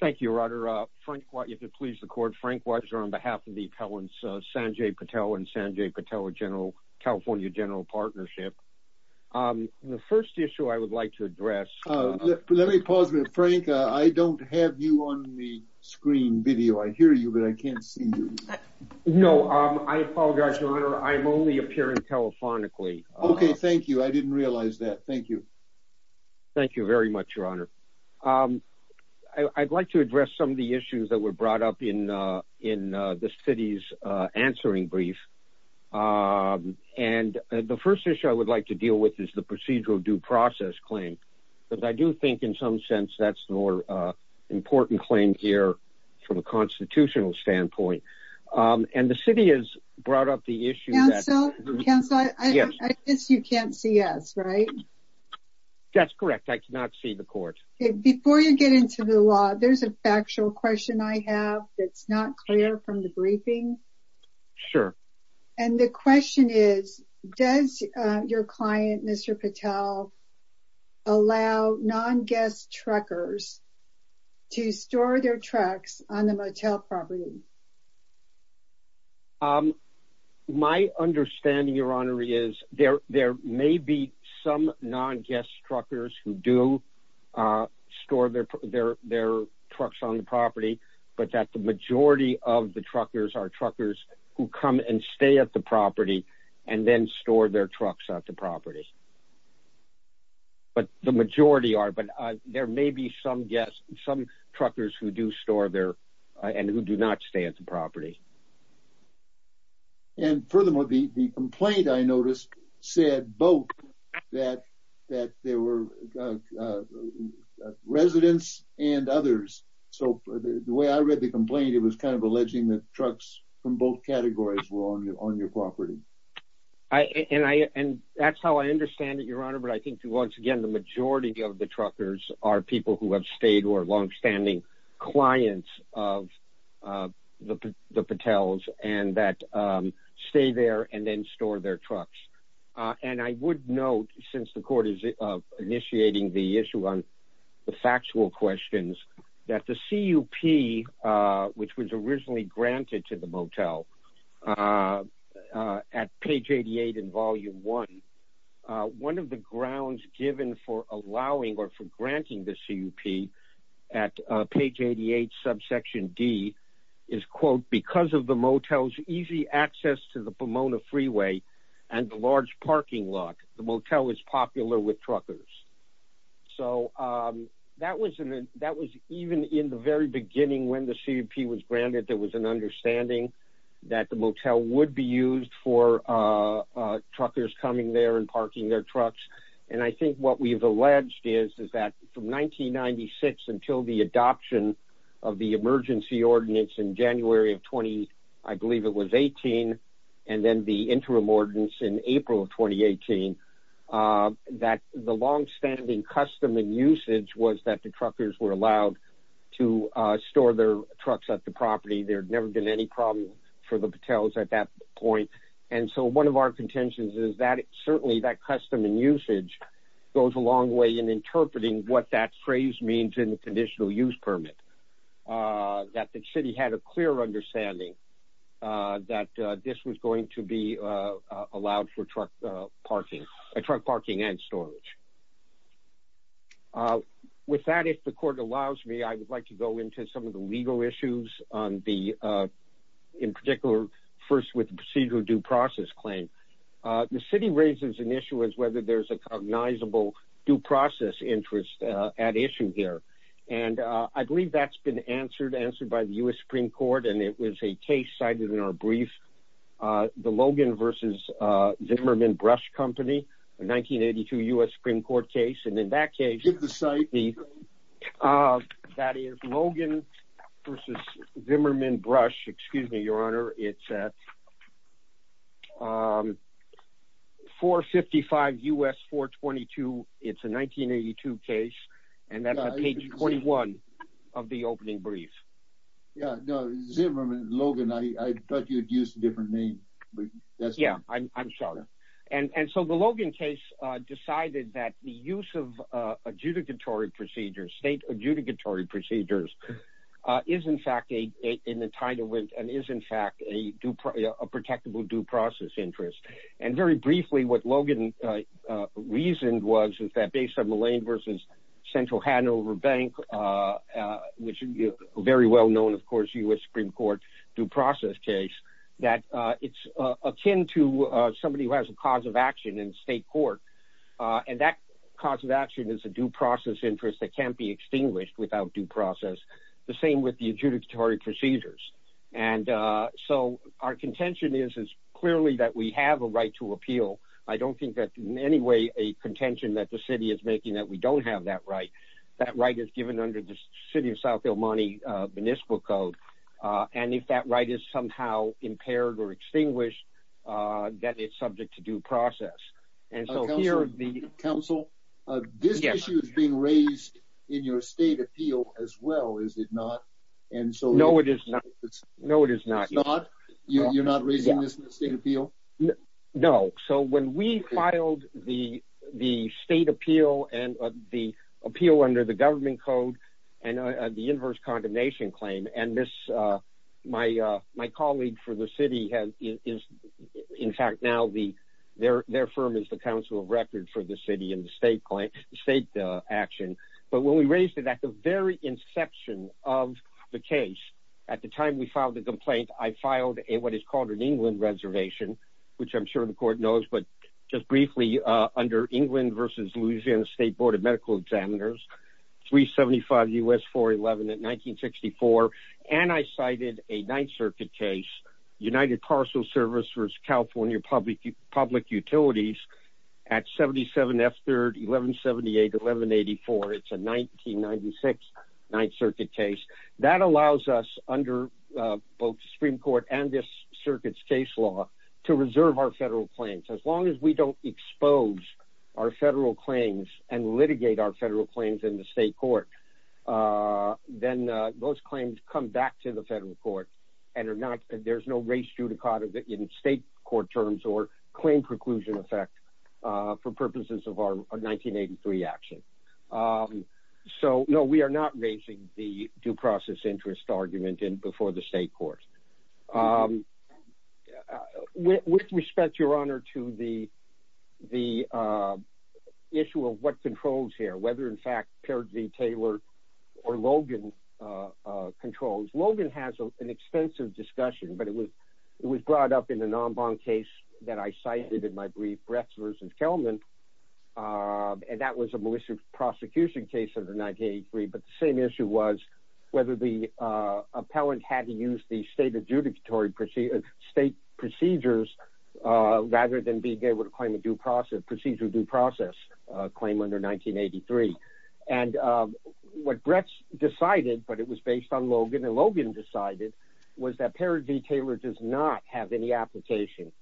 Thank you, your honor. If it pleases the court, Frank Watcher on behalf of the appellants Sanjay Patel and Sanjay Patel California General Partnership. The first issue I would like to address... Let me pause a minute, Frank. I don't have you on the screen video. I hear you, but I can't see you. No, I apologize, your honor. I'm only appearing telephonically. Okay, thank you. I didn't realize that. Thank you. Thank you very much, your honor. I'd like to address some of the issues that were brought up in the city's answering brief. And the first issue I would like to deal with is the procedural due process claim. Because I do think in some sense, that's more important claim here from a constitutional standpoint. And the city has brought up the issue... Counselor, I guess you can't see us, right? That's correct. I cannot see the court. Okay, before you get into the law, there's a factual question I have that's not clear from the briefing. Sure. And the question is, does your client, Mr. Patel, allow non-guest truckers to store their trucks on the motel property? My understanding, your honor, is there may be some non-guest truckers who do store their trucks on the property, but that the majority of the truckers are truckers who come and stay at the property, and then store their trucks at the property. But the majority are, but there may be some guests, some truckers who do store there, and who do not stay at the property. And furthermore, the complaint I noticed said both that there were residents and others. So the way I read the complaint, it was kind of alleging that trucks from both categories were on your property. And that's how I understand it, your honor. But I think once again, the majority of the truckers are people who have stayed, who are longstanding clients of the Patels, and that stay there and then store their trucks. And I would note, since the court is initiating the issue on the factual questions, that the CUP, which was originally granted to the motel at page 88 in volume one, one of the grounds given for allowing or for granting the CUP at page 88, subsection D, is, quote, because of the motel's easy access to the Pomona Freeway and the large parking lot, the motel is popular with truckers. So that was even in the very that the motel would be used for truckers coming there and parking their trucks. And I think what we've alleged is that from 1996 until the adoption of the emergency ordinance in January of 20, I believe it was 18, and then the interim ordinance in April of 2018, that the longstanding custom and usage was that the truckers were allowed to store their trucks at the property. There had never been any problem for the Patels at that point. And so one of our contentions is that certainly that custom and usage goes a long way in interpreting what that phrase means in the conditional use permit, that the city had a clear understanding that this was going to be allowed for truck parking, truck parking and storage. With that, if the court allows me, I would like to go into some of the legal issues on the, in particular, first with the procedural due process claim. The city raises an issue as whether there's a cognizable due process interest at issue here. And I believe that's been answered by the U.S. Supreme Court, and it was a case cited in our brief, the Logan versus Zimmerman Brush Company, a 1982 U.S. Supreme Court case. And in that case, that is Logan versus Zimmerman Brush, excuse me, your honor, it's at 455 U.S. 422. It's a 1982 case, and that's on page 21 of the opening brief. Yeah, no, Zimmerman, Logan, I thought you'd used a different name. Yeah, I'm sorry. And so the Logan case decided that the use of adjudicatory procedures, state adjudicatory procedures, is in fact a, in the title, and is in fact a protectable due process interest. And very briefly, what Logan reasoned was that based on the Lane versus Central Hanover Bank, which is a very well known, of course, U.S. Supreme Court due process case, that it's akin to somebody who has a cause of action in state court. And that cause of action is a due process interest that can't be extinguished without due process. The same with the adjudicatory procedures. And so our contention is, is clearly that we have a right to appeal. I don't think that in any way a contention that the city is making that we don't have that right. That right is given under the city of South El Monte Municipal Code. And if that right is somehow impaired or extinguished, that it's subject to due process. And so here are the- Counsel, this issue is being raised in your state appeal as well, is it not? And so- No, it is not. No, it is not. It's not? You're not raising this in the state appeal? No. So when we filed the state appeal and the appeal under the government code and the inverse condemnation claim, and this, my colleague for the city has, is, in fact, now their firm is the council of record for the city and the state action. But when we raised it at the very inception of the case, at the time we filed the complaint, I filed what is called an England reservation, which I'm sure the court knows, but just briefly under England versus Louisiana State Board of Medical Examiners, 375 U.S. 411 at 1964. And I cited a Ninth Circuit case, United Parcel Service versus California Public Utilities at 77 F3rd 1178-1184. It's a 1996 Ninth Circuit case. That allows us under both the Supreme Court and the United States Supreme Court to close our federal claims and litigate our federal claims in the state court. Then those claims come back to the federal court and are not, there's no race judicata in state court terms or claim preclusion effect for purposes of our 1983 action. So no, we are not raising the due process interest argument in before the state court. With respect, your honor, to the, the issue of what controls here, whether in fact, Perry V. Taylor or Logan controls, Logan has an extensive discussion, but it was, it was brought up in the non-bond case that I cited in my brief, Brexler's and Kelman. And that was a malicious prosecution case of the 1983. But the same issue was whether the state adjudicatory procedure, state procedures, rather than being able to claim a due process, procedure due process claim under 1983. And what Brex decided, but it was based on Logan and Logan decided was that Perry V. Taylor does not have any application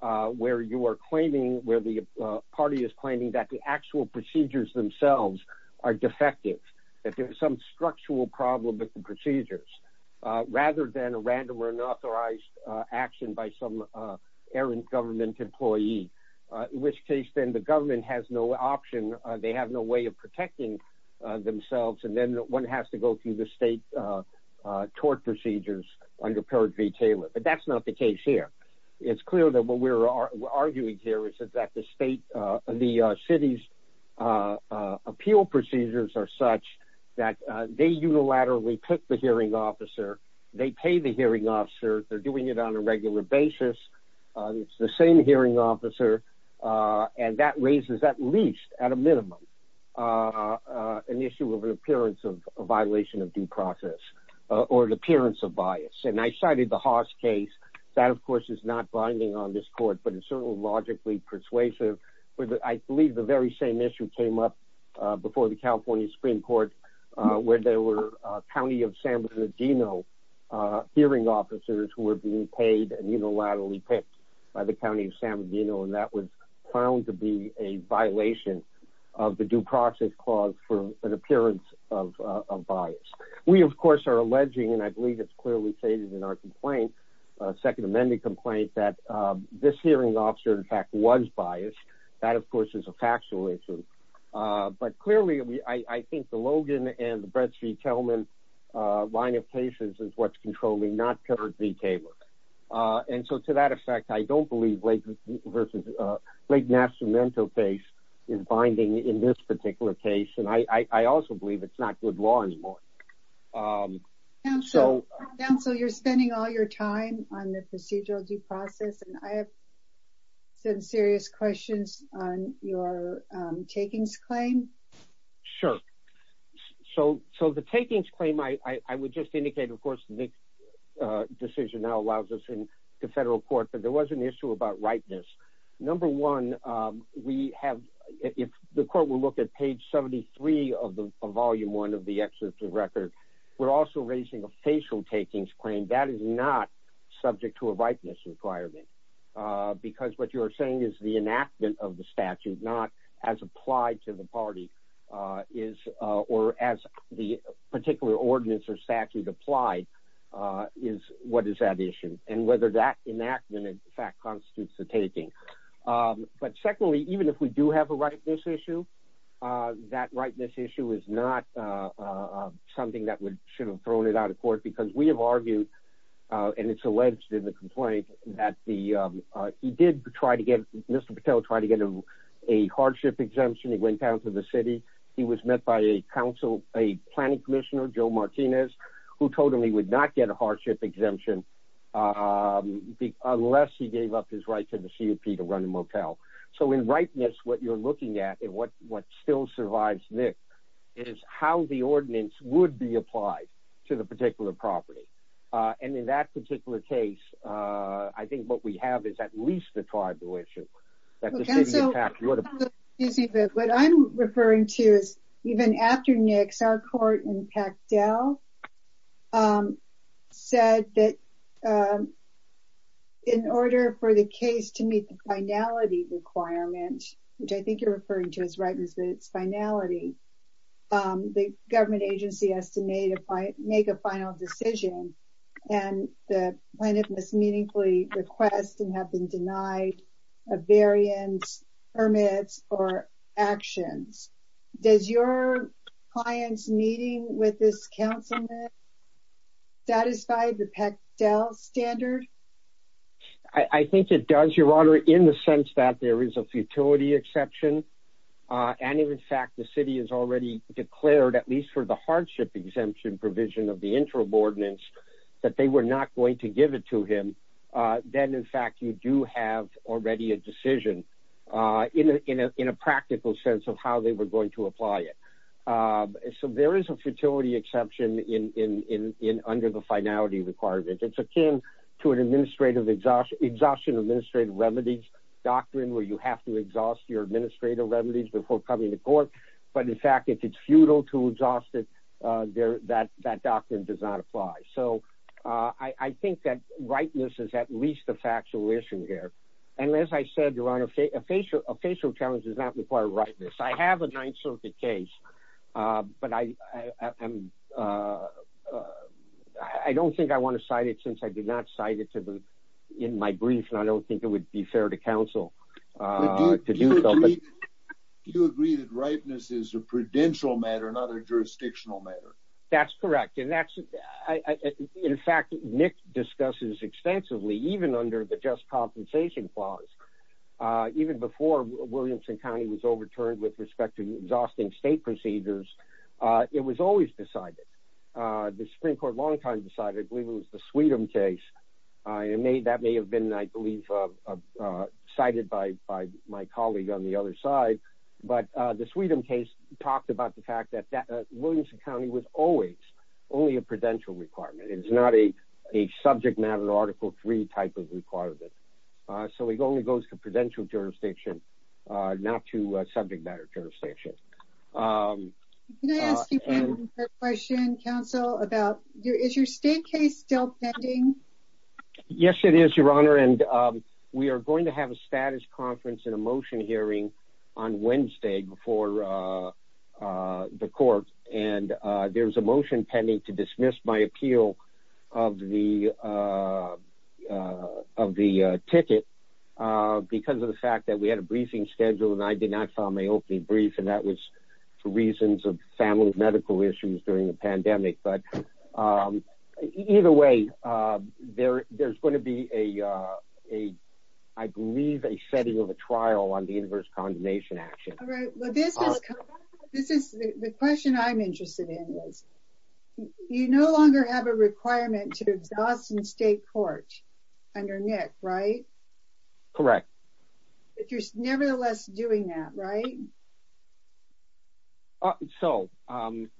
where you are claiming, where the party is claiming that the actual procedures themselves are defective, that there's some unauthorized action by some errant government employee, which case then the government has no option. They have no way of protecting themselves. And then one has to go through the state tort procedures under Perry V. Taylor, but that's not the case here. It's clear that what we're arguing here is that the state, the city's appeal procedures are such that they unilaterally pick the hearing officer. They pay the hearing officer. They're doing it on a regular basis. It's the same hearing officer. And that raises at least at a minimum an issue of an appearance of a violation of due process or an appearance of bias. And I cited the Haas case. That of course is not binding on this court, but it's certainly logically persuasive, but I believe the very same issue came up before the California Supreme Court where there were County of San Bernardino hearing officers who were being paid and unilaterally picked by the County of San Bernardino. And that was found to be a violation of the due process clause for an appearance of a bias. We of course are alleging, and I believe it's clearly stated in a second amendment complaint, that this hearing officer in fact was biased. That of course is a factual issue, but clearly I think the Logan and the Brett C. Kelman line of cases is what's controlling, not Perry V. Taylor. And so to that effect, I don't believe Lake Nascimento case is binding in this particular case. And I also believe it's not good law anymore. Counsel, you're spending all your time on the procedural due process, and I have some serious questions on your takings claim. Sure. So the takings claim, I would just indicate, of course, the decision now allows us in the federal court, but there was an issue about number one, we have, if the court will look at page 73 of the volume, one of the exit to record, we're also raising a facial takings claim that is not subject to a ripeness requirement. Because what you're saying is the enactment of the statute, not as applied to the party is, or as the particular ordinance or statute applied is what is that issue? And whether that enactment in fact constitutes the taking. But secondly, even if we do have a rightness issue, that rightness issue is not something that should have thrown it out of court because we have argued and it's alleged in the complaint that the, he did try to get Mr. Patel tried to get him a hardship exemption. He went down to the city. He was met by a council, a planning commissioner, Joe Martinez, who told him he would not get a hardship exemption unless he gave up his right to the CUP to run a motel. So in rightness, what you're looking at and what still survives Nick is how the ordinance would be applied to the particular property. And in that particular case, I think what we have is at least the tribal issue. So what I'm referring to is even after Nick's, our court in Pactel said that in order for the case to meet the finality requirement, which I think you're referring to as rightness, but it's finality, the government agency has to make a final decision and the plaintiff must meaningfully request and have been denied a variance permits or actions. Does your client's meeting with this councilman satisfy the Pactel standard? I think it does your honor in the sense that there is a futility exception. And in fact, the city has already declared at least for the hardship exemption provision of the interim ordinance that they were not going to give it to him. Then in fact, you do have already a decision in a practical sense of how they were going to apply it. So there is a futility exception under the finality requirement. It's akin to an administrative exhaustion, exhaustion, administrative remedies doctrine, where you have to exhaust your administrative remedies before coming to court. But in fact, if it's futile to exhaust it, that doctrine does not apply. So I think that rightness is at least a factual issue here. And as I said, your honor, a facial challenge does not require rightness. I have a Ninth Circuit case, but I don't think I want to cite it since I did not cite it in my brief. And I don't think it would be fair to council to do something. Do you agree that rightness is a prudential matter, not a jurisdictional matter? That's correct. In fact, Nick discusses extensively, even under the just compensation clause, even before Williamson County was overturned with respect to exhausting state procedures, it was always decided. The Supreme Court long time decided, I believe it was the Sweden case. That may have been, I believe, cited by my colleague on the other side. But the Sweden case talked about the fact that Williamson County was always only a prudential requirement. It is not a subject matter article three type of requirement. So it only goes to prudential jurisdiction, not to subject matter jurisdiction. Can I ask you one more question, counsel, about your, is your state case still pending? Yes, it is your honor. And we are going to have a status conference and a motion hearing on Wednesday before the court. And there's a motion pending to dismiss my appeal of the ticket because of the fact that we had a briefing schedule and I did not file my opening brief. And for reasons of family medical issues during the pandemic, but either way, there's going to be a, I believe a setting of a trial on the inverse condemnation action. This is the question I'm interested in is, you no longer have a requirement to exhaust and state court under Nick, right? Correct. If you're nevertheless doing that, right? Uh, so, um,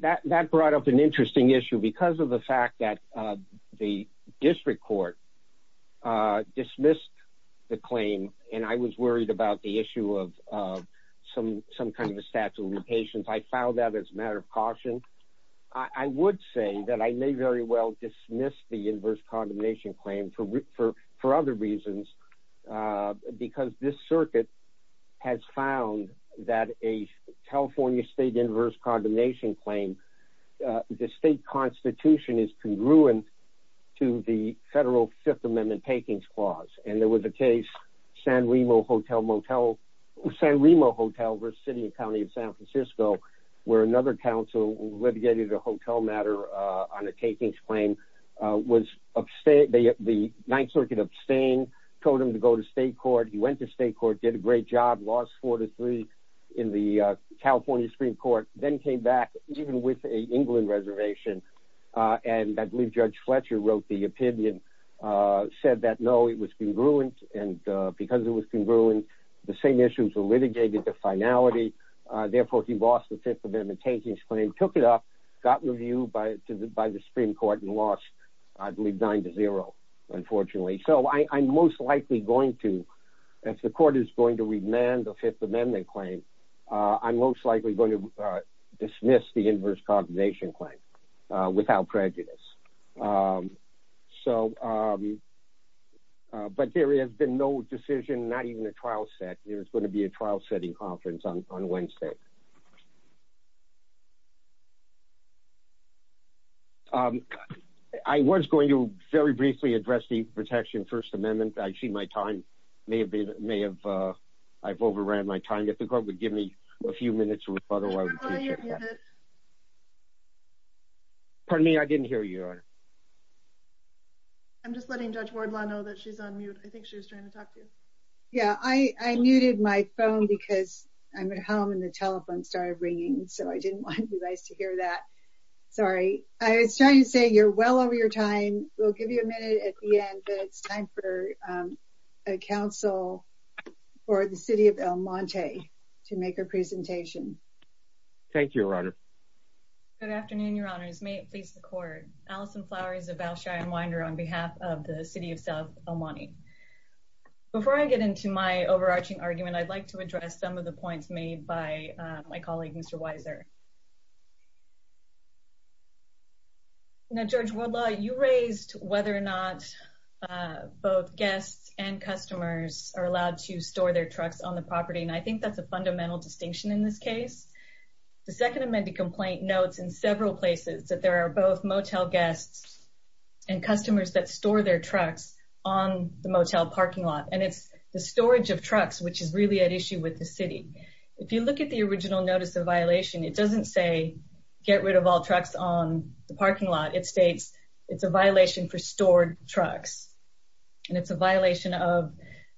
that, that brought up an interesting issue because of the fact that, uh, the district court, uh, dismissed the claim. And I was worried about the issue of, uh, some, some kind of a statute of limitations. I filed that as a matter of caution. I would say that I may very well dismiss the inverse condemnation claim for, for, for other reasons, uh, because this circuit has found that a California state inverse condemnation claim, uh, the state constitution is congruent to the federal fifth amendment takings clause. And there was a case San Remo hotel, motel San Remo hotel versus city and County of San Francisco, where another council litigated a hotel matter, uh, on a takings claim, uh, was upstate. They, the ninth circuit abstain told him to go to state court. He went to state court, did a great job, lost four to three in the California Supreme court, then came back even with a England reservation. Uh, and I believe judge Fletcher wrote the opinion, uh, said that, no, it was congruent. And, uh, because it was congruent, the same issues were litigated to finality. Uh, therefore he lost the fifth amendment takings claim, took it up, got reviewed by the, by the Supreme court and lost, I believe nine to zero, unfortunately. So I, I'm most likely going to, if the court is going to remand the fifth amendment claim, uh, I'm most likely going to, uh, dismiss the inverse condemnation claim, uh, without prejudice. Um, so, um, uh, but there has been no decision, not even a trial set. There's going to be a trial setting conference on Wednesday. Okay. Um, I was going to very briefly address the protection first amendment. I see my time may have been, may have, uh, I've overran my time. If the court would give me a few minutes. Pardon me. I didn't hear you. I'm just letting judge Ward know that she's on mute. I think she started ringing. So I didn't want you guys to hear that. Sorry. I was trying to say you're well over your time. We'll give you a minute at the end, but it's time for, um, a council for the city of El Monte to make a presentation. Thank you. Good afternoon. Your honors may it please the court, Alison flowers about Cheyenne winder on behalf of the city of El Monte. Before I get into my overarching argument, I'd like to address some of the points made by my colleague, Mr. Weiser. Now, George, you raised whether or not, uh, both guests and customers are allowed to store their trucks on the property. And I think that's a fundamental distinction in this case. The second amended complaint notes in several places that there are both motel guests and customers that store their trucks on the motel parking lot. And it's the storage of trucks, which is really at issue with the city. If you look at the original notice of violation, it doesn't say get rid of all trucks on the parking lot. It states it's a violation for stored trucks. And it's a violation of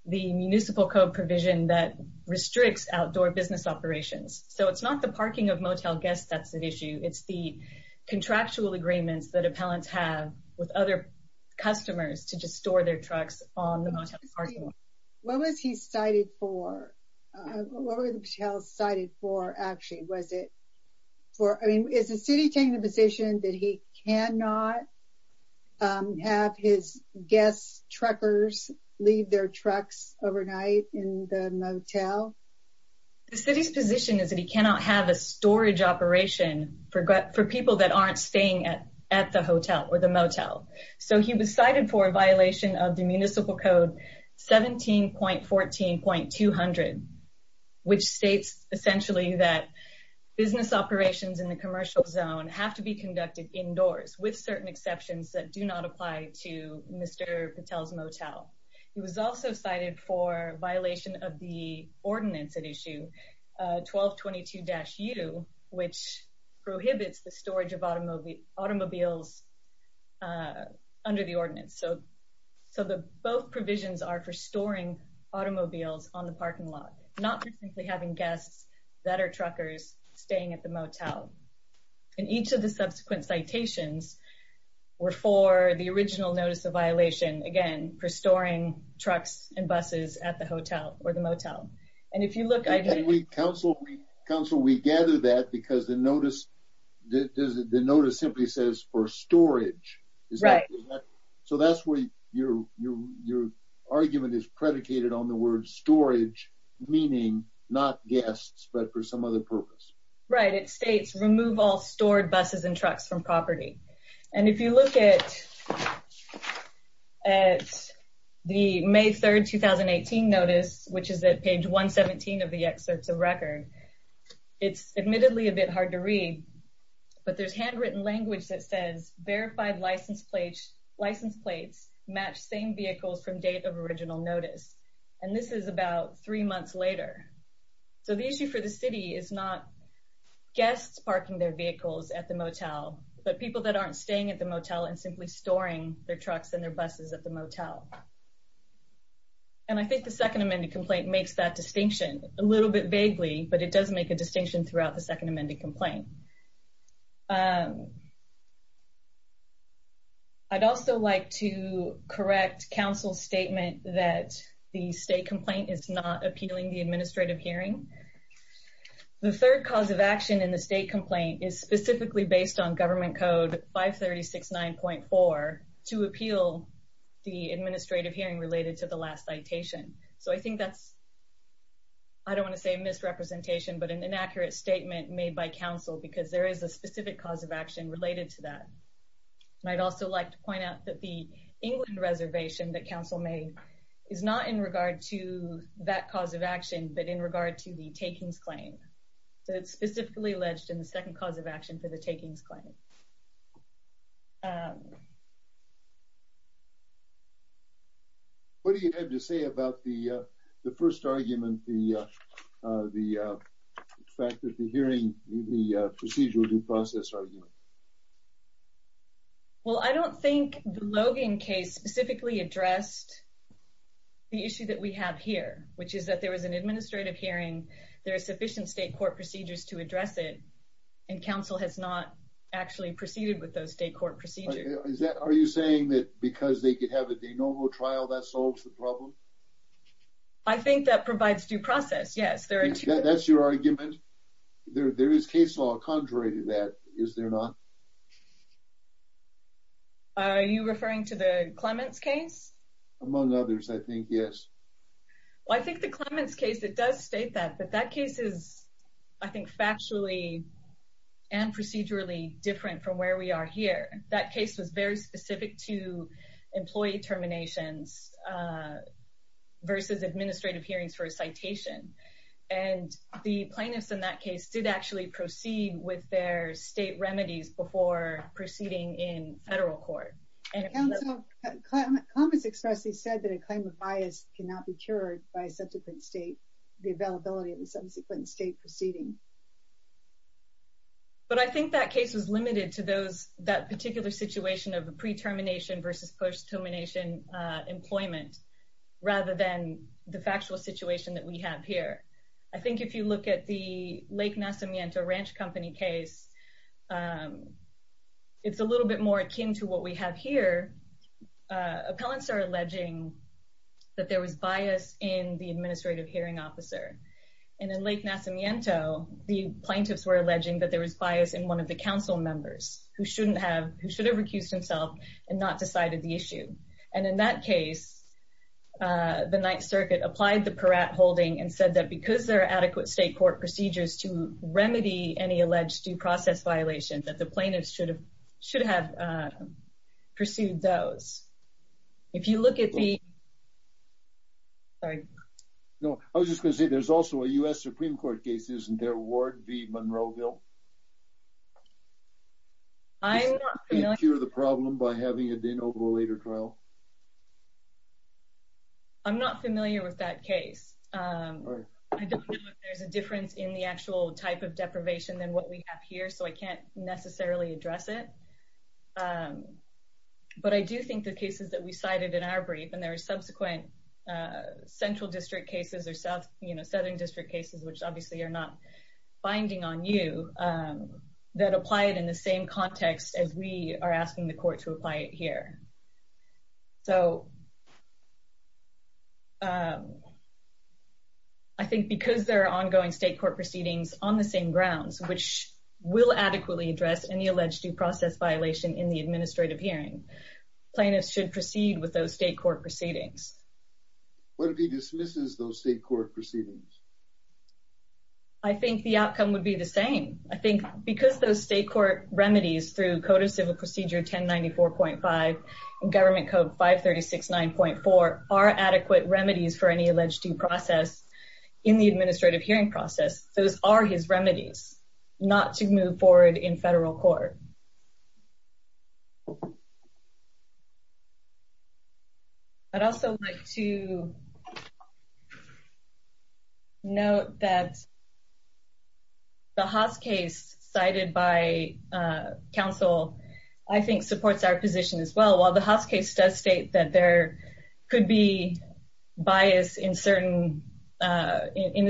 the municipal code provision that restricts outdoor business operations. So it's not the parking of motel guests. That's an issue. It's the other customers to just store their trucks on the motel parking lot. What was he cited for? What were the hotels cited for? Actually, was it for, I mean, is the city taking the position that he cannot have his guests truckers leave their trucks overnight in the motel? The city's position is that he cannot have a storage operation for people that aren't staying at the hotel or the motel. So he was cited for a violation of the municipal code 17.14.200, which states essentially that business operations in the commercial zone have to be conducted indoors with certain exceptions that do not apply to Mr. Patel's motel. He was also cited for violation of the ordinance at issue 1222-U, which prohibits the storage of automobiles under the ordinance. So the both provisions are for storing automobiles on the parking lot, not simply having guests that are truckers staying at the motel. And each of the trucks and buses at the hotel or the motel. And if you look- And counsel, we gather that because the notice simply says for storage. So that's where your argument is predicated on the word storage, meaning not guests, but for some other purpose. Right. It states remove all stored buses and trucks from property. And if you look at the May 3rd, 2018 notice, which is at page 117 of the excerpts of record, it's admittedly a bit hard to read, but there's handwritten language that says verified license plates match same vehicles from date of original notice. And this is about three months later. So the issue for the city is not guests parking their vehicles at the motel, but people that aren't staying at the motel and simply storing their trucks and their buses at the motel. And I think the second amended complaint makes that distinction a little bit vaguely, but it does make a distinction throughout the second amended complaint. I'd also like to correct counsel's statement that the state complaint is not appealing the administrative hearing. The third cause of action in the state complaint is specifically based on government code 536.9.4 to appeal the administrative hearing related to the last citation. So I think that's, I don't want to say misrepresentation, but an inaccurate statement made by counsel, because there is a specific cause of action related to that. I'd also like to point out that the England reservation that counsel made is not in regard to that cause of action, but in regard to the takings claim. So it's specifically alleged in the second cause of action for the takings claim. What do you have to say about the first argument, the fact that the hearing, the procedural due process argument? Well, I don't think the Logan case specifically addressed the issue that we have here, which is that there was an administrative hearing, there are sufficient state court procedures to address it, and counsel has not actually proceeded with those state court procedures. Is that, are you saying that because they could have a de novo trial, that solves the problem? I think that provides due process, yes. That's your argument? There is case law contrary to that, is there not? Are you referring to the Clements case? Among others, I think, yes. Well, I think the Clements case, it does state that, but that case is, I think, factually and procedurally different from where we are here. That case was very specific to employee terminations versus administrative hearings for a citation. And the plaintiffs in that case did actually proceed with their state remedies before proceeding in federal court. And counsel, Clements expressly said that a claim of bias cannot be cured by a subsequent state, the availability of the subsequent state proceeding. But I think that case was limited to those, that particular situation of a pre-termination versus post-termination employment, rather than the factual situation that we have here. I think if you look at the Lake Nacimiento Ranch Company case, it's a little bit more akin to what we have here. Appellants are alleging that there was bias in the administrative hearing officer. And in Lake Nacimiento, the plaintiffs were alleging that there was bias in one of the council members who shouldn't have, who should have recused himself and not decided the issue. And in that case, the Ninth Circuit applied the Peratt holding and said that because there that the plaintiffs should have pursued those. If you look at the, sorry. No, I was just going to say, there's also a U.S. Supreme Court case. Isn't there Ward v. Monroeville? I'm not familiar with that case. I don't know if there's a difference in the actual type of case, so I can't necessarily address it. But I do think the cases that we cited in our brief, and there are subsequent central district cases or southern district cases, which obviously are not binding on you, that apply it in the same context as we are asking the court to apply it here. So I think because there are ongoing state court proceedings on the same grounds, which will adequately address any alleged due process violation in the administrative hearing, plaintiffs should proceed with those state court proceedings. What if he dismisses those state court proceedings? I think the outcome would be the same. I think because those state court remedies through code of civil procedure 1094.5 and government code 536.9.4 are adequate remedies for any alleged due process in the administrative hearing process. Those are his remedies not to move forward in federal court. I'd also like to note that the Haas case cited by counsel, I think supports our position as well. While the Haas case does state that there could be bias in the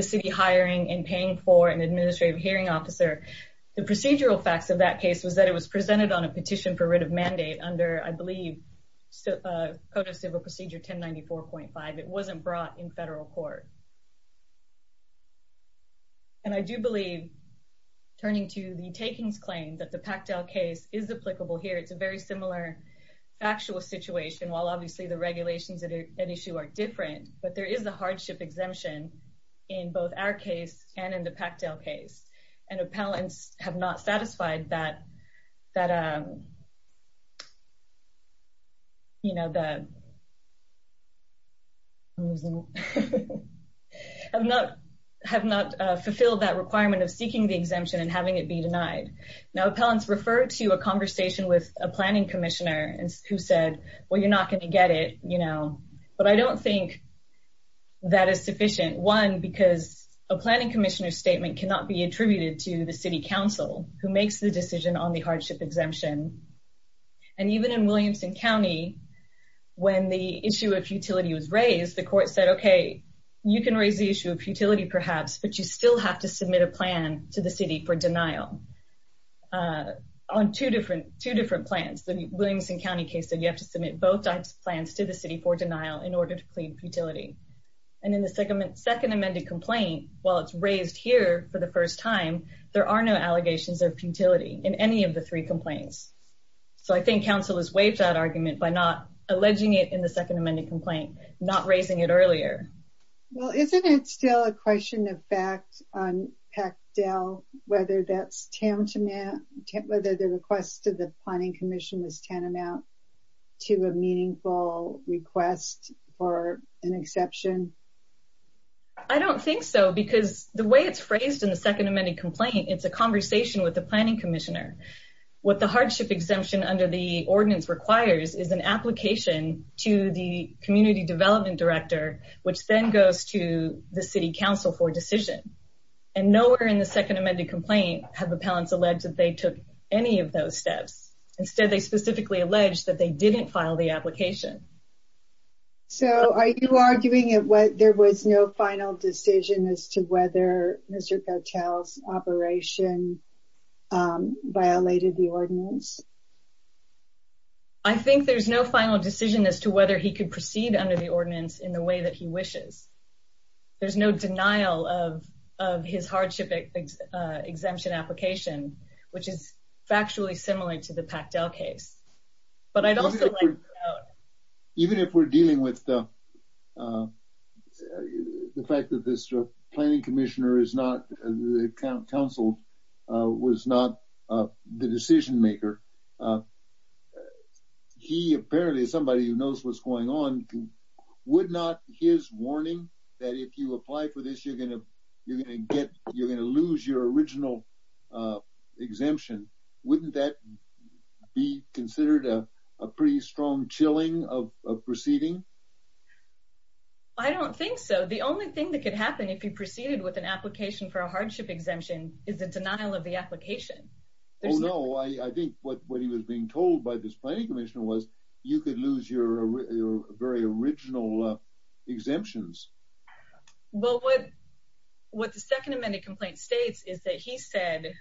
city hiring and paying for an administrative hearing officer, the procedural facts of that case was that it was presented on a petition for writ of mandate under, I believe, code of civil procedure 1094.5. It wasn't brought in federal court. And I do believe, turning to the Takings claim, that the Pactel case is applicable here. It's a similar factual situation, while obviously the regulations at issue are different, but there is a hardship exemption in both our case and in the Pactel case. And appellants have not fulfilled that requirement of seeking the exemption and having it be denied. Now, appellants referred to a conversation with a planning commissioner who said, well, you're not going to get it, you know, but I don't think that is sufficient. One, because a planning commissioner statement cannot be attributed to the city council who makes the decision on the hardship exemption. And even in Williamson County, when the issue of futility was raised, the court said, okay, you can raise the issue of for denial on two different plans. The Williamson County case said you have to submit both types of plans to the city for denial in order to plead futility. And in the second amended complaint, while it's raised here for the first time, there are no allegations of futility in any of the three complaints. So I think council has waived that argument by not alleging it in the second amended complaint, not raising it earlier. Well, isn't it still a question of fact on whether that's tantamount, whether the request to the planning commission is tantamount to a meaningful request for an exception? I don't think so because the way it's phrased in the second amended complaint, it's a conversation with the planning commissioner. What the hardship exemption under the ordinance requires is an application to the community development director, which then goes to the city council for decision. And nowhere in the second amended complaint have appellants alleged that they took any of those steps. Instead, they specifically alleged that they didn't file the application. So are you arguing that there was no final decision as to whether Mr. Gautel's operation violated the ordinance? I think there's no final decision as to whether he could proceed under the ordinance in the way that he wishes. There's no denial of his hardship exemption application, which is factually similar to the Pactel case. But I'd also like to know... Even if we're dealing with the fact that this planning commissioner is not, the council was not the decision maker, he apparently is somebody who knows what's going on. Would not his warning that if you apply for this, you're going to lose your original exemption, wouldn't that be considered a pretty strong chilling of proceeding? I don't think so. The only thing that could happen if you proceeded with an application for a hardship exemption is the denial of the application. Oh no, I think what he was being told by this planning commissioner was you could lose your very original exemptions. Well, what the second amended complaint states is that he said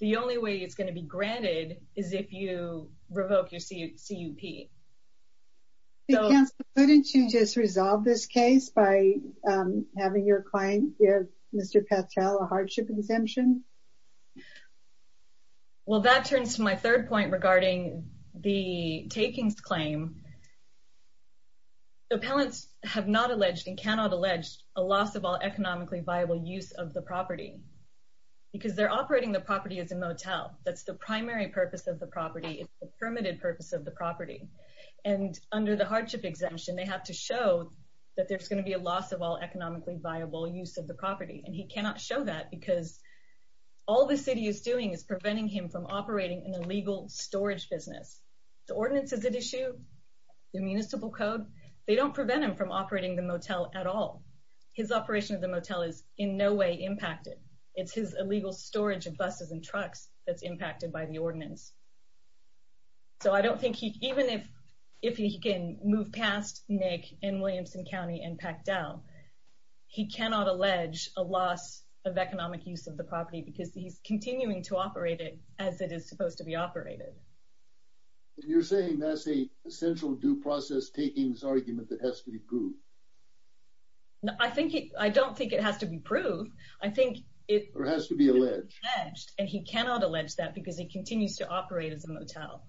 the only way it's going to be granted is if you revoke your CUP. Couldn't you just resolve this case by having your client give Mr. Pactel a hardship exemption? Well, that turns to my third point regarding the takings claim. The appellants have not alleged and cannot allege a loss of all economically viable use of the property because they're operating the property as a motel. That's the primary purpose of the property. It's the permitted purpose of the property. And under the hardship exemption, they have to show that there's going to be a loss of all economically viable use of the property. And he cannot show that because all the city is doing is preventing him from operating an illegal storage business. The ordinances that issue, the municipal code, they don't prevent him from operating the motel at all. His operation of the motel is in no way impacted. It's his illegal storage of buses and trucks that's impacted by the ordinance. So I don't think even if he can move past Nick and Williamson County and Pactel, he cannot allege a loss of economic use of the property because he's continuing to operate it as it is supposed to be operated. You're saying that's an essential due process takings argument that has to be proved? I don't think it has to be proved. I think it has to be alleged. And he cannot allege that because he continues to operate as a motel.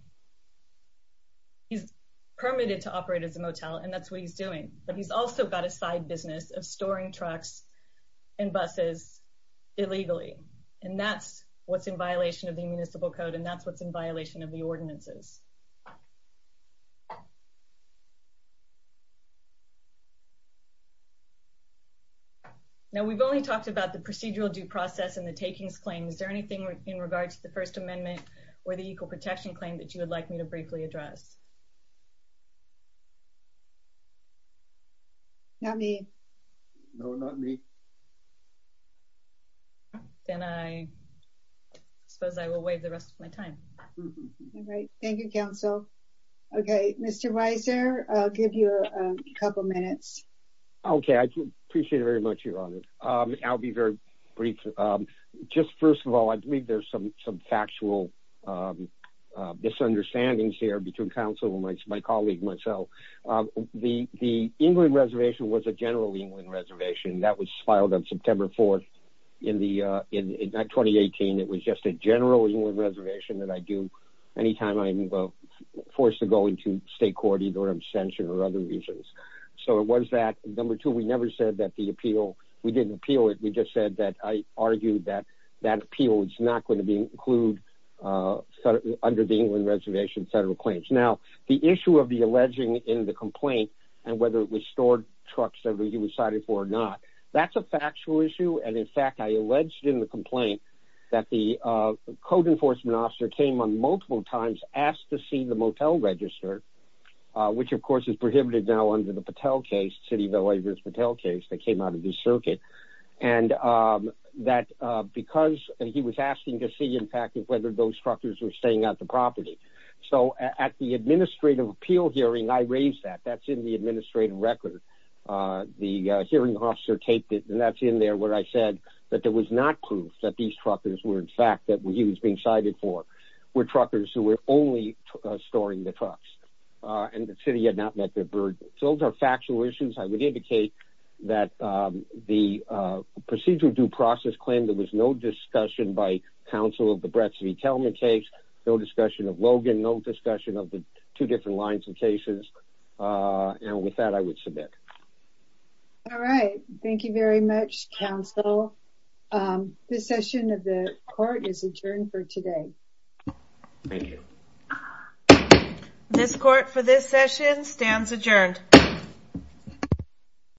He's permitted to operate as a motel, and that's what he's doing. But he's also got a side business of storing trucks and buses illegally. And that's what's in violation of the municipal code. And that's what's in violation of the ordinances. Now, we've only talked about the procedural due process and the takings claim. Is there anything in regard to the First Amendment or the Equal Protection Claim that you would like me to briefly address? Not me. No, not me. Then I suppose I will waive the rest of my time. All right. Thank you, Council. Okay. Mr. Weiser, I'll give you a couple minutes. Okay. I appreciate it very much, Your Honor. I'll be very brief. Just first of all, I believe there's some factual misunderstandings here between Council and my colleague, myself. The England Reservation was a general England Reservation. That was filed on September 4th in 2018. It was just a general England Reservation that I do any time I'm forced to go into state court, either abstention or other reasons. So it was that. Number two, we never said that the not going to include under the England Reservation federal claims. Now, the issue of the alleging in the complaint and whether it was stored trucks that he was cited for or not, that's a factual issue. And in fact, I alleged in the complaint that the code enforcement officer came on multiple times, asked to see the motel register, which of course is prohibited now under the Patel case, City of LA versus Patel case that came out of the circuit. And that because he was asking to see, in fact, whether those truckers were staying at the property. So at the administrative appeal hearing, I raised that. That's in the administrative record. The hearing officer taped it. And that's in there where I said that there was not proof that these truckers were in fact that he was being cited for were truckers who were only storing the trucks. And the city had not met the burden. So those are factual issues. I would indicate that the procedure due process claim there was no discussion by counsel of the Bretski-Telman case, no discussion of Logan, no discussion of the two different lines of cases. And with that, I would submit. All right. Thank you very much, counsel. This session of the court is adjourned for today. Thank you. This court for this session stands adjourned.